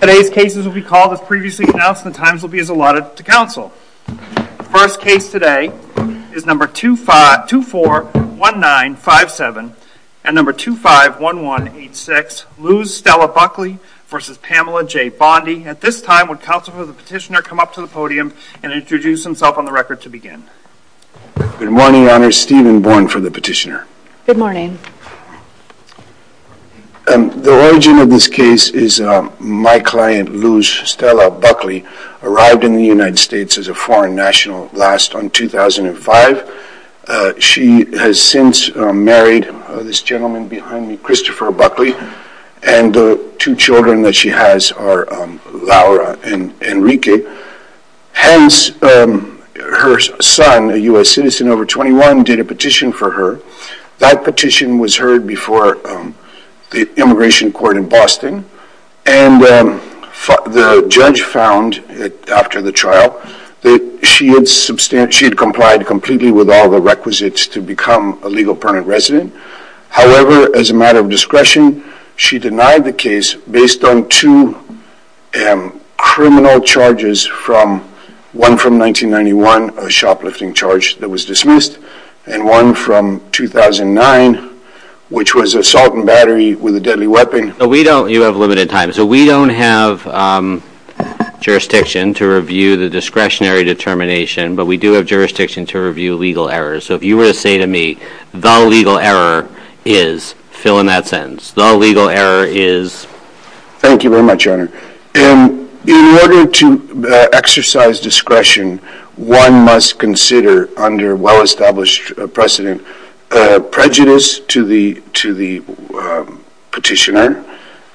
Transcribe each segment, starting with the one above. Today's cases will be called as previously announced and the times will be as allotted to counsel. The first case today is number 241957 and number 251186, Luz Stella Buckley v. Pamela J. Bondi. At this time, would counsel for the petitioner come up to the podium and introduce himself on the record to begin? Good morning, Your Honor. Stephen Bourne for the petitioner. Good morning. The origin of this case is my client, Luz Stella Buckley, arrived in the United States as a foreign national last on 2005. She has since married this gentleman behind me, Christopher Buckley, and the two children that she has are Laura and Enrique, hence her son, a U.S. citizen over 21, did a petition for her. That petition was heard before the immigration court in Boston, and the judge found after the trial that she had complied completely with all the requisites to become a legal permanent resident. However, as a matter of discretion, she denied the case based on two criminal charges, one from 1991, a shoplifting charge that was dismissed, and one from 2009, which was assault and battery with a deadly weapon. You have limited time, so we don't have jurisdiction to review the discretionary determination, but we do have jurisdiction to review legal errors. So if you were to say to me, the legal error is, fill in that sentence, the legal error is? Thank you very much, Your Honor. In order to exercise discretion, one must consider, under well-established precedent, prejudice to the petitioner.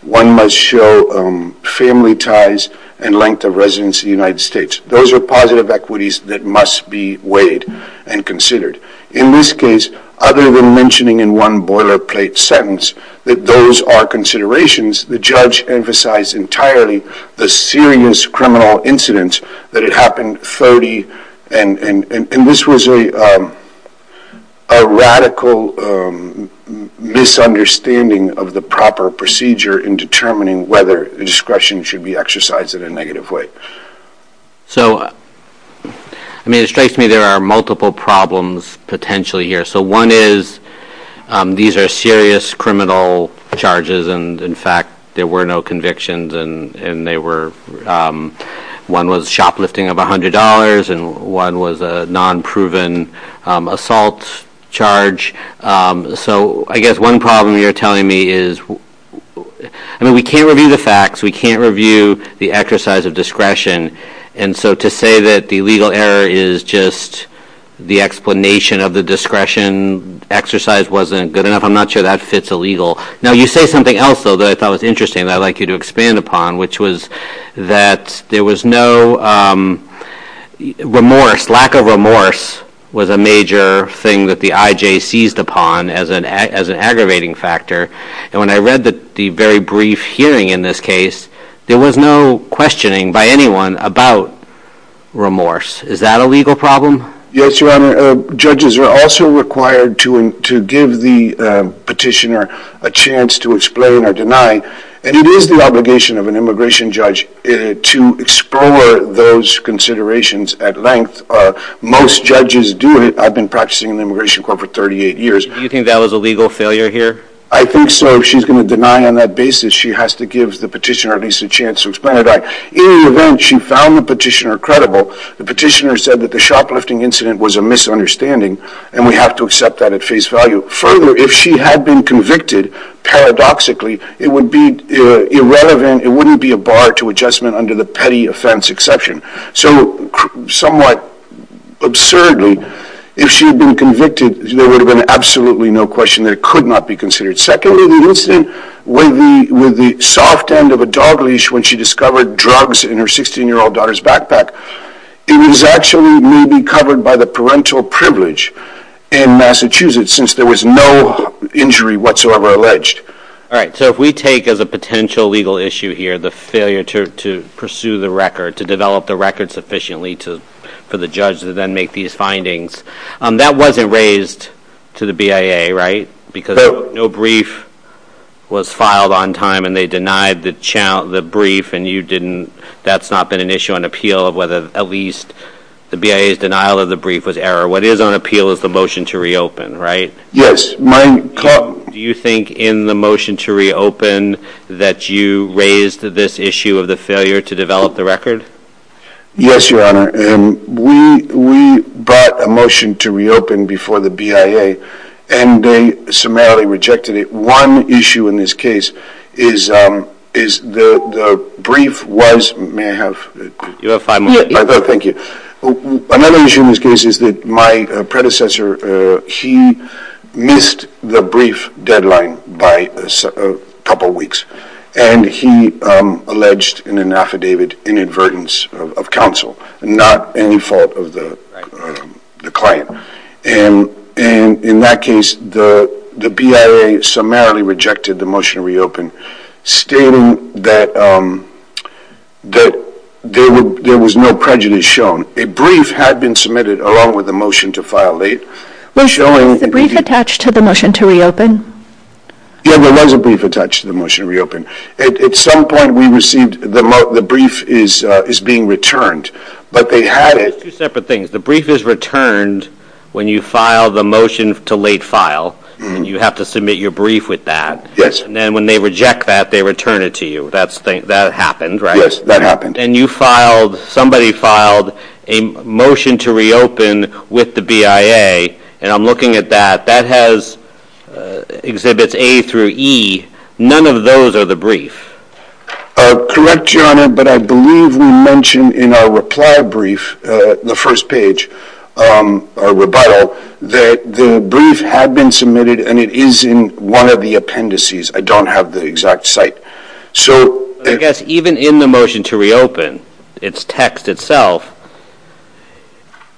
One must show family ties and length of residence in the United States. Those are positive equities that must be weighed and considered. In this case, other than mentioning in one boilerplate sentence that those are considerations, the judge emphasized entirely the serious criminal incident, that it happened 30, and this was a radical misunderstanding of the proper procedure in determining whether discretion should be exercised in a negative way. So I mean, it strikes me there are multiple problems potentially here. So one is, these are serious criminal charges, and in fact, there were no convictions, and they were, one was shoplifting of $100, and one was a non-proven assault charge. So I guess one problem you're telling me is, I mean, we can't review the facts, we can't review the exercise of discretion, and so to say that the legal error is just the explanation of the discretion exercise wasn't good enough, I'm not sure that fits illegal. Now, you say something else, though, that I thought was interesting that I'd like you to expand upon, which was that there was no remorse, lack of remorse was a major thing that the IJ seized upon as an aggravating factor, and when I read the very brief hearing in this case, there was no questioning by anyone about remorse. Is that a legal problem? Yes, Your Honor. Judges are also required to give the petitioner a chance to explain or deny, and it is the obligation of an immigration judge to explore those considerations at length. Most judges do it. I've been practicing in the Immigration Court for 38 years. Do you think that was a legal failure here? I think so. If she's going to deny on that basis, she has to give the petitioner at least a chance to explain it. In any event, she found the petitioner credible. The petitioner said that the shoplifting incident was a misunderstanding, and we have to accept that at face value. Further, if she had been convicted, paradoxically, it would be irrelevant, it wouldn't be a bar to adjustment under the petty offense exception. So somewhat absurdly, if she had been convicted, there would have been absolutely no question that it could not be considered. Secondly, the incident with the soft end of a dog leash when she discovered drugs in her 16-year-old daughter's backpack, it was actually maybe covered by the parental privilege in Massachusetts since there was no injury whatsoever alleged. All right. So if we take as a potential legal issue here the failure to pursue the record, to develop the record sufficiently for the judge to then make these findings, that wasn't raised to the BIA, right? Because no brief was filed on time, and they denied the brief, and you didn't, that's not been an issue on appeal of whether at least the BIA's denial of the brief was error. What is on appeal is the motion to reopen, right? Yes. Do you think in the motion to reopen that you raised this issue of the failure to develop the record? Yes, Your Honor. We brought a motion to reopen before the BIA, and they summarily rejected it. One issue in this case is the brief was, may I have? You have five minutes. Thank you. Another issue in this case is that my predecessor, he missed the brief deadline by a couple weeks, and he alleged in an affidavit inadvertence of counsel, not any fault of the client. And in that case, the BIA summarily rejected the motion to reopen, stating that there was no prejudice shown. A brief had been submitted along with the motion to file late. Was the brief attached to the motion to reopen? Yes, there was a brief attached to the motion to reopen. At some point, we received the brief is being returned, but they had it. Two separate things. The brief is returned when you file the motion to late file, and you have to submit your brief with that. Yes. And then when they reject that, they return it to you. That happened, right? Yes, that happened. And you filed, somebody filed a motion to reopen with the BIA, and I'm looking at that. That has exhibits A through E. None of those are the brief. Correct, Your Honor, but I believe we mentioned in our reply brief, the first page, our rebuttal, that the brief had been submitted, and it is in one of the appendices. I don't have the exact site. So I guess even in the motion to reopen, its text itself,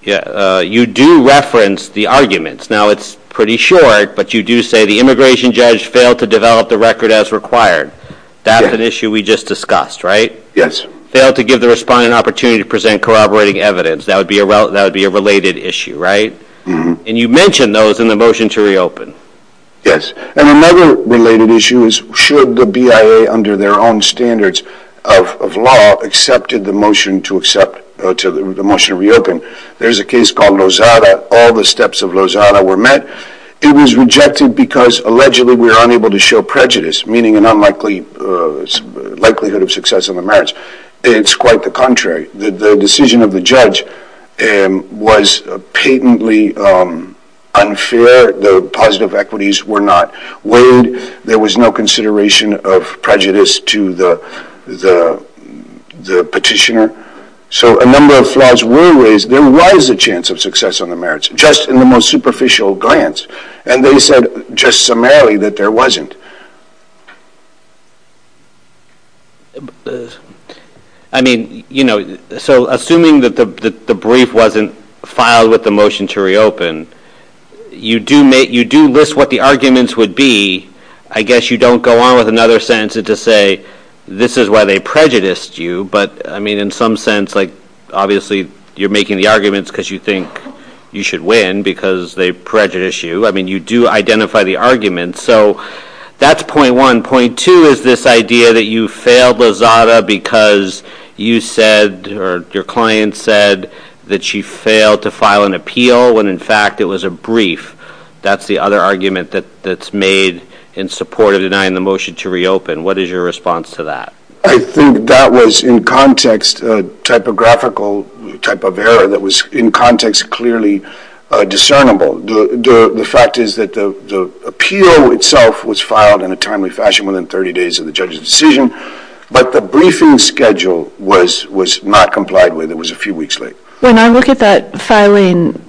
you do reference the arguments. Now it's pretty short, but you do say the immigration judge failed to develop the record as required. Yes. That's an issue we just discussed, right? Yes. Failed to give the respondent an opportunity to present corroborating evidence. That would be a related issue, right? Mm-hmm. And you mentioned those in the motion to reopen. Yes. And another related issue is should the BIA, under their own standards of law, accepted the motion to accept, the motion to reopen. There's a case called Lozada. All the steps of Lozada were met. It was rejected because, allegedly, we were unable to show prejudice, meaning a likelihood of success on the merits. It's quite the contrary. The decision of the judge was patently unfair. The positive equities were not weighed. There was no consideration of prejudice to the petitioner. So a number of flaws were raised. There was a chance of success on the merits, just in the most superficial glance. And they said, just summarily, that there wasn't. I mean, so assuming that the brief wasn't filed with the motion to reopen, you do list what the arguments would be. I guess you don't go on with another sentence to say, this is why they prejudiced you. But I mean, in some sense, obviously, you're making the arguments because you think you should win because they prejudice you. I mean, you do identify the arguments. So that's point one. Point two is this idea that you failed Lozada because you said, or your client said, that she failed to file an appeal when, in fact, it was a brief. That's the other argument that's made in support of denying the motion to reopen. What is your response to that? I think that was, in context, a typographical type of error that was, in context, clearly discernible. The fact is that the appeal itself was filed in a timely fashion within 30 days of the judge's decision. But the briefing schedule was not complied with. It was a few weeks late. When I look at that filing,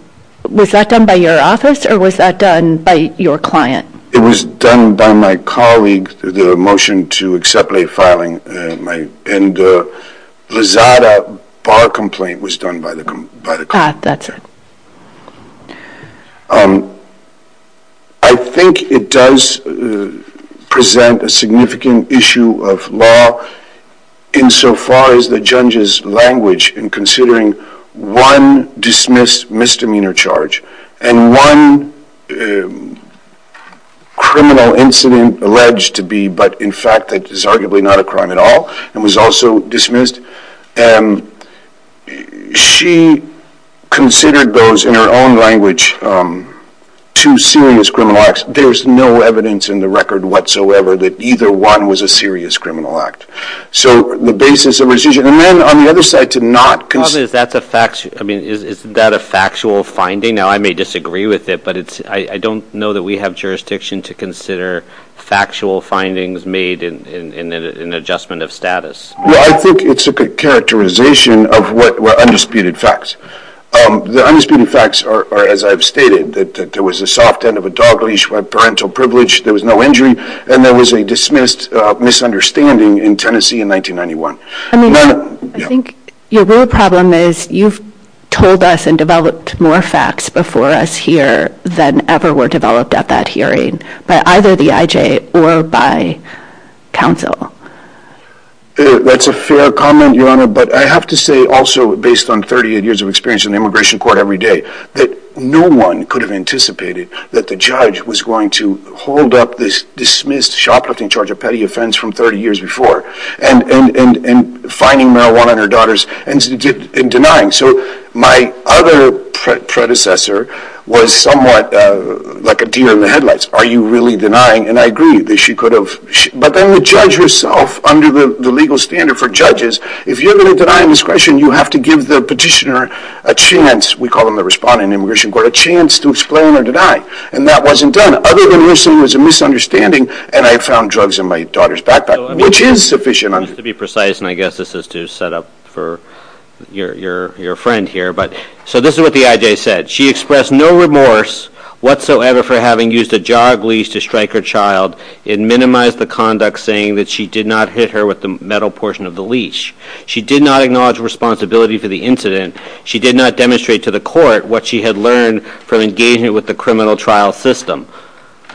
was that done by your office or was that done by your client? It was done by my colleague through the motion to accept late filing. And the Lozada bar complaint was done by the client. Ah, that's it. I think it does present a significant issue of law insofar as the judge's language in considering one dismissed misdemeanor charge and one criminal incident alleged to be, but in fact that is arguably not a crime at all, and was also dismissed. She considered those, in her own language, two serious criminal acts. There's no evidence in the record whatsoever that either one was a serious criminal act. So the basis of her decision, and then on the other side, to not consider... Robert, is that a factual finding? Now I may disagree with it, but I don't know that we have jurisdiction to consider factual findings made in an adjustment of status. Well, I think it's a characterization of what were undisputed facts. The undisputed facts are, as I've stated, that there was a soft end of a dog leash, a parental privilege, there was no injury, and there was a dismissed misunderstanding in Tennessee in 1991. I mean, I think your real problem is you've told us and developed more facts before us here than ever were developed at that hearing by either the IJ or by counsel. That's a fair comment, Your Honor, but I have to say also, based on 38 years of experience in immigration court every day, that no one could have anticipated that the judge was going to hold up this dismissed, shoplifting, charge of petty offense from 30 years before, and fining marijuana on her daughters, and denying. So my other predecessor was somewhat like a deer in the headlights. Are you really denying? And I agree that she could have, but then the judge herself, under the legal standard for judges, if you're going to deny indiscretion, you have to give the petitioner a chance, we call them the respondent in immigration court, a chance to explain or deny. And that wasn't done. Other than there was a misunderstanding, and I found drugs in my daughter's backpack, which is sufficient. Just to be precise, and I guess this is to set up for your friend here, but so this is what the IJ said. She expressed no remorse whatsoever for having used a jog leash to strike her child and minimize the conduct saying that she did not hit her with the metal portion of the leash. She did not acknowledge responsibility for the incident. She did not demonstrate to the court what she had learned from engaging with the criminal trial system.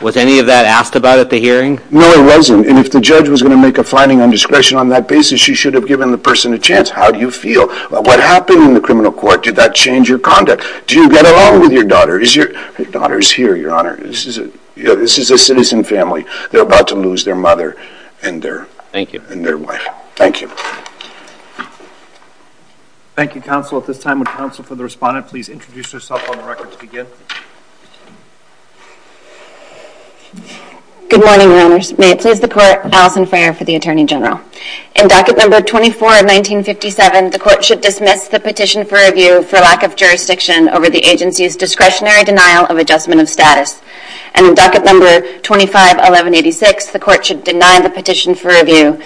Was any of that asked about at the hearing? No, it wasn't. And if the judge was going to make a finding on discretion on that basis, she should have given the person a chance. How do you feel? What happened in the criminal court? Did that change your conduct? Do you get along with your daughter? Is your daughter's here, your honor? This is a citizen family. They're about to lose their mother and their wife. Thank you. Thank you, counsel. At this time, would counsel for the respondent please introduce herself on the record to Good morning, your honors. May it please the court, Alison Frayer for the Attorney General. In docket number 24 of 1957, the court should dismiss the petition for review for lack of jurisdiction over the agency's discretionary denial of adjustment of status. And in docket number 25, 1186, the court should deny the petition for review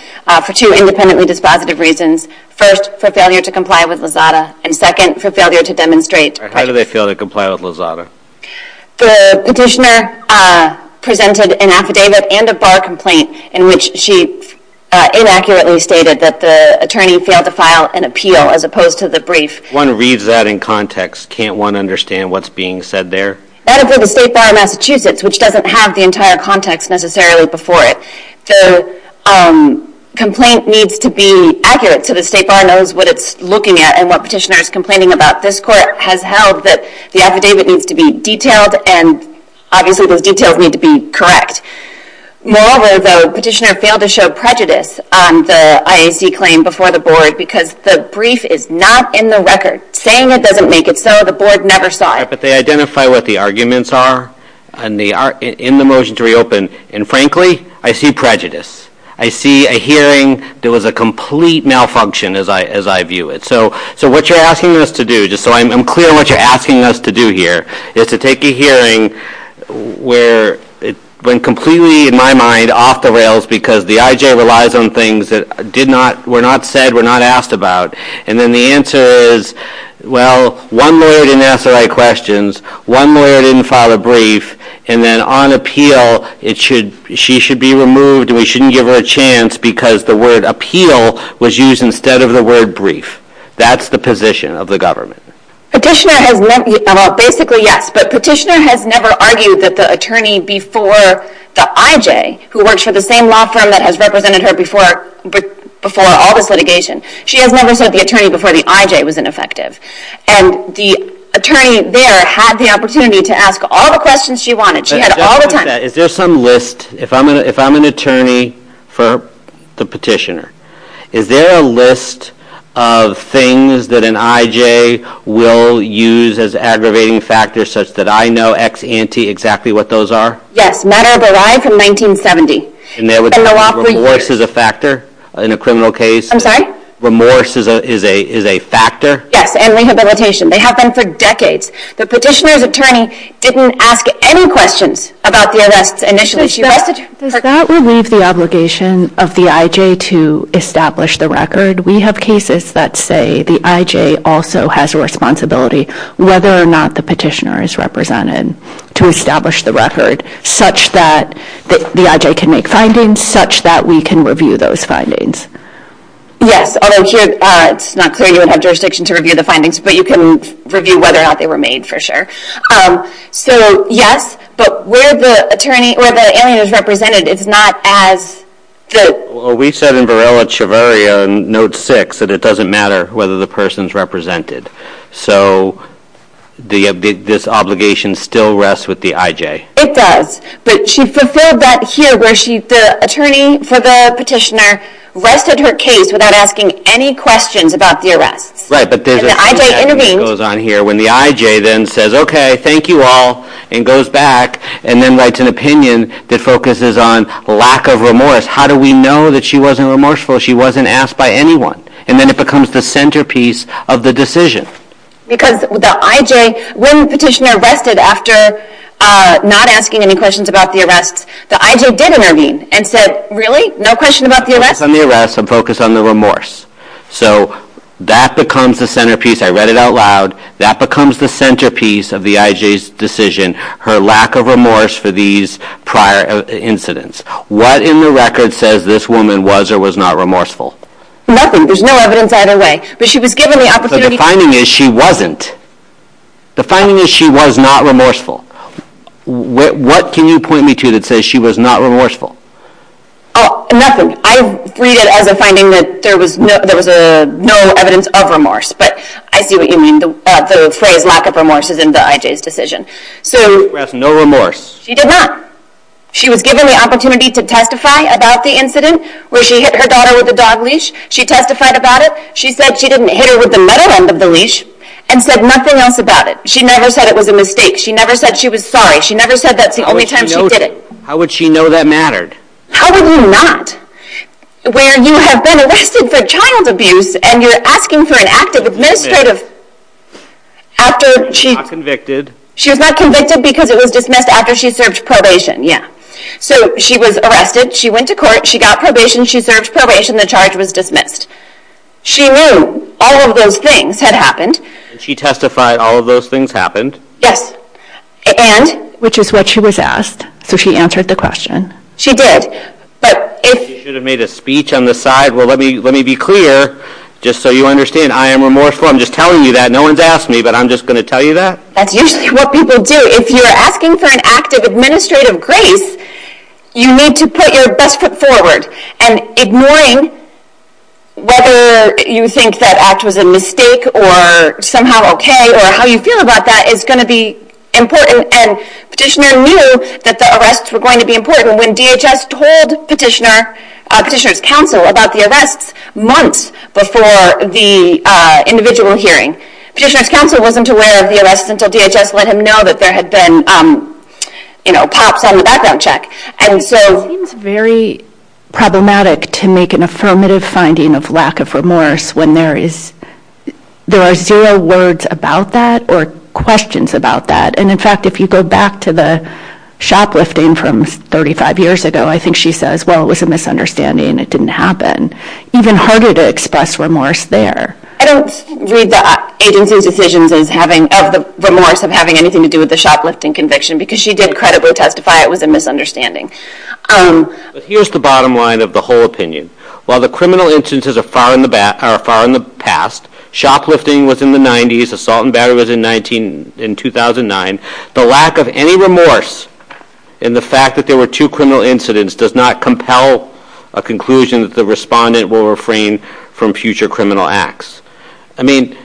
for two independently dispositive reasons. First, for failure to comply with Lozada, and second, for failure to demonstrate. How do they fail to comply with Lozada? The petitioner presented an affidavit and a bar complaint in which she inaccurately stated that the attorney failed to file an appeal as opposed to the brief. One reads that in context. Can't one understand what's being said there? That is for the State Bar of Massachusetts, which doesn't have the entire context necessarily before it. The complaint needs to be accurate so the State Bar knows what it's looking at and what petitioner is complaining about. This court has held that the affidavit needs to be detailed and obviously those details need to be correct. Moreover, the petitioner failed to show prejudice on the IAC claim before the board because the brief is not in the record. Saying it doesn't make it so. The board never saw it. They identify what the arguments are in the motion to reopen and frankly, I see prejudice. I see a hearing that was a complete malfunction as I view it. So what you're asking us to do, just so I'm clear what you're asking us to do here, is to take a hearing where it went completely, in my mind, off the rails because the IJ relies on things that were not said, were not asked about. And then the answer is, well, one lawyer didn't ask the right questions, one lawyer didn't file a brief, and then on appeal, she should be removed and we shouldn't give her a chance because the word appeal was used instead of the word brief. That's the position of the government. Petitioner has meant, well basically yes, but petitioner has never argued that the attorney before the IJ who works for the same law firm that has represented her before all this litigation, she has never sued the attorney before the IJ was ineffective. And the attorney there had the opportunity to ask all the questions she wanted. She had all the time. Just on that, is there some list, if I'm an attorney for the petitioner, is there a list of things that an IJ will use as aggravating factors such that I know ex ante exactly what those are? Yes. Matter that I from 1970. And there was remorse as a factor in a criminal case? I'm sorry? Remorse is a factor? Yes, and rehabilitation. They have been for decades. The petitioner's attorney didn't ask any questions about the arrests initially. Does that relieve the obligation of the IJ to establish the record? We have cases that say the IJ also has a responsibility whether or not the petitioner is represented to establish the record such that the IJ can make findings, such that we can review those findings. Yes, although here it's not clear you would have jurisdiction to review the findings, but you can review whether or not they were made for sure. So, yes, but where the attorney, where the alien is represented, it's not as the... We said in Varela-Chavarria, note six, that it doesn't matter whether the person's represented. So, this obligation still rests with the IJ? It does, but she fulfilled that here where the attorney for the petitioner rested her case without asking any questions about the arrests. Right, but there's a thing that goes on here when the IJ then says, okay, thank you all, and goes back and then writes an opinion that focuses on lack of remorse. How do we know that she wasn't remorseful, she wasn't asked by anyone? And then it becomes the centerpiece of the decision. Because the IJ, when the petitioner rested after not asking any questions about the arrests, the IJ did intervene and said, really, no question about the arrests? Focus on the arrests and focus on the remorse. So that becomes the centerpiece, I read it out loud, that becomes the centerpiece of the IJ's decision, her lack of remorse for these prior incidents. What in the record says this woman was or was not remorseful? Nothing, there's no evidence either way. But she was given the opportunity... So the finding is she wasn't. The finding is she was not remorseful. What can you point me to that says she was not remorseful? Nothing. I read it as a finding that there was no evidence of remorse, but I see what you mean. The phrase lack of remorse is in the IJ's decision. So... No remorse. She did not. She was given the opportunity to testify about the incident where she hit her daughter with a dog leash. She testified about it. She said she didn't hit her with the metal end of the leash and said nothing else about it. She never said it was a mistake. She never said she was sorry. She never said that's the only time she did it. How would she know that mattered? How would you not? Where you have been arrested for child abuse and you're asking for an active administrative... She was not convicted. She was not convicted because it was dismissed after she served probation, yeah. So she was arrested. She went to court. She got probation. She served probation. The charge was dismissed. She knew all of those things had happened. And she testified all of those things happened. Yes. And... Which is what she was asked. So she answered the question. She did. But if... You should have made a speech on the side. Well, let me be clear, just so you understand, I am remorseful. I'm just telling you that. No one's asked me, but I'm just going to tell you that. That's usually what people do. If you're asking for an active administrative grace, you need to put your best foot forward and ignoring whether you think that act was a mistake or somehow okay or how you feel about that is going to be important. And Petitioner knew that the arrests were going to be important when DHS told Petitioner's counsel about the arrests months before the individual hearing. Petitioner's counsel wasn't aware of the arrests until DHS let him know that there had been pops on the background check. And so... It seems very problematic to make an affirmative finding of lack of remorse when there are zero words about that or questions about that. And, in fact, if you go back to the shoplifting from 35 years ago, I think she says, well, it was a misunderstanding. It didn't happen. Even harder to express remorse there. I don't read the agency's remorse of having anything to do with the shoplifting conviction because she did credibly testify it was a misunderstanding. Here's the bottom line of the whole opinion. While the criminal instances are far in the past, shoplifting was in the 90s, assault and battery was in 2009, the lack of any remorse in the fact that there were two criminal incidents does not compel a conclusion that the respondent will refrain from future criminal acts. I mean,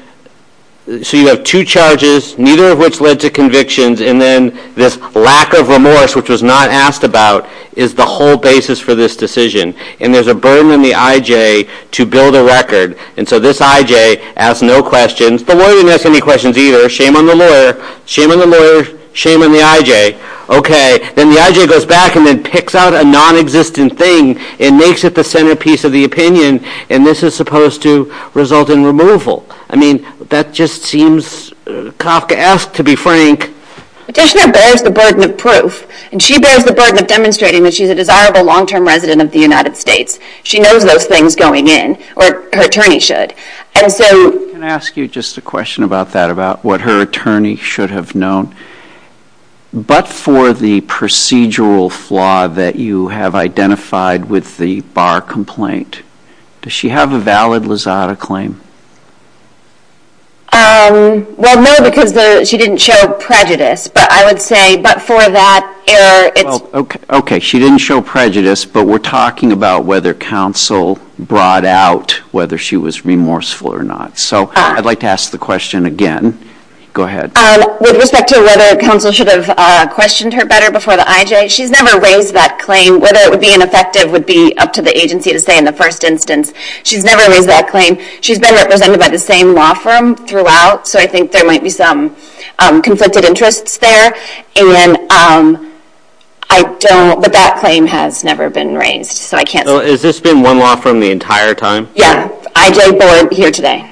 so you have two charges, neither of which led to convictions, and then this lack of remorse, which was not asked about, is the whole basis for this decision. And there's a burden on the I.J. to build a record. And so this I.J. asks no questions. The lawyer didn't ask any questions either. Shame on the lawyer. Shame on the lawyer. Shame on the I.J. Okay. Then the I.J. goes back and then picks out a nonexistent thing and makes it the centerpiece of the opinion, and this is supposed to result in removal. I mean, that just seems, Kafka asked to be frank. Petitioner bears the burden of proof, and she bears the burden of demonstrating that she's a desirable long-term resident of the United States. She knows those things going in, or her attorney should. Can I ask you just a question about that, about what her attorney should have known? But for the procedural flaw that you have identified with the bar complaint, does she have a valid Lozada claim? Well, no, because she didn't show prejudice. But I would say, but for that error, it's... Okay. She didn't show prejudice, but we're talking about whether counsel brought out whether she was remorseful or not. So I'd like to ask the question again. Go ahead. With respect to whether counsel should have questioned her better before the I.J., she's never raised that claim. Whether it would be ineffective would be up to the agency to say in the first instance. She's never raised that claim. She's been represented by the same law firm throughout, so I think there might be some conflicted interests there. And I don't... But that claim has never been raised, so I can't say. So has this been one law firm the entire time? Yeah. I.J. Board here today.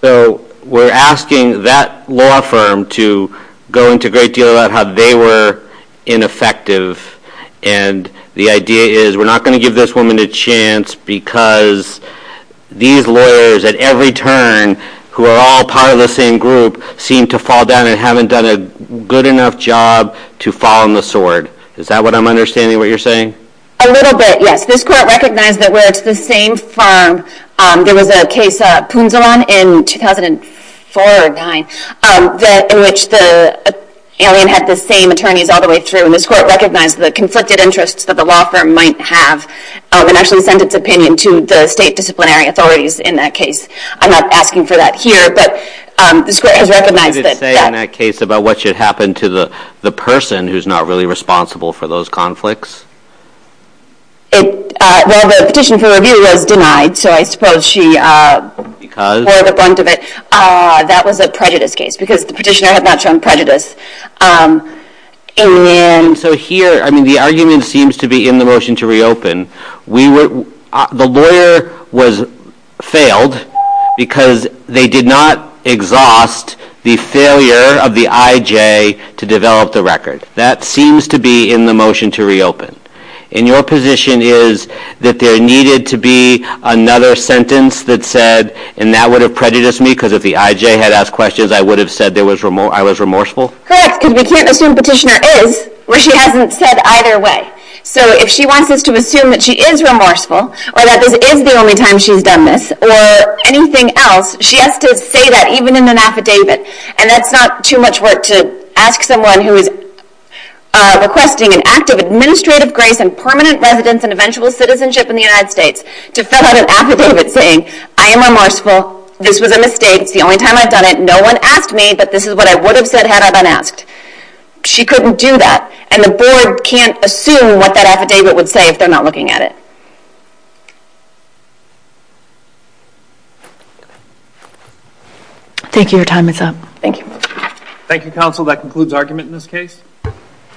So we're asking that law firm to go into a great deal about how they were ineffective and the idea is we're not going to give this woman a chance because these lawyers at every turn who are all part of the same group seem to fall down and haven't done a good enough job to fall on the sword. Is that what I'm understanding what you're saying? A little bit, yes. This court recognized that where it's the same firm, there was a case, Poonzolan, in 2004 or 2009, in which the alien had the same attorneys all the way through. And this court recognized the conflicted interests that the law firm might have and actually sent its opinion to the state disciplinary authorities in that case. I'm not asking for that here, but this court has recognized that. What did it say in that case about what should happen to the person who's not really responsible for those conflicts? Well, the petition for review was denied, so I suppose she bore the brunt of it. Because? That was a prejudice case because the petitioner had not shown prejudice. And so here, I mean, the argument seems to be in the motion to reopen. The lawyer failed because they did not exhaust the failure of the IJ to develop the record. That seems to be in the motion to reopen. And your position is that there needed to be another sentence that said, and that would have prejudiced me because if the IJ had asked questions, I would have said I was remorseful? Correct, because we can't assume petitioner is where she hasn't said either way. So if she wants us to assume that she is remorseful, or that this is the only time she's done this, or anything else, she has to say that even in an affidavit. And that's not too much work to ask someone who is requesting an act of administrative grace and permanent residence and eventual citizenship in the United States to fill out an affidavit saying, I am remorseful, this was a mistake, it's the only time I've done it, no one asked me, but this is what I would have said had I been asked. She couldn't do that. And the board can't assume what that affidavit would say if they're not looking at it. Thank you. Your time is up. Thank you. Thank you, counsel. That concludes argument in this case.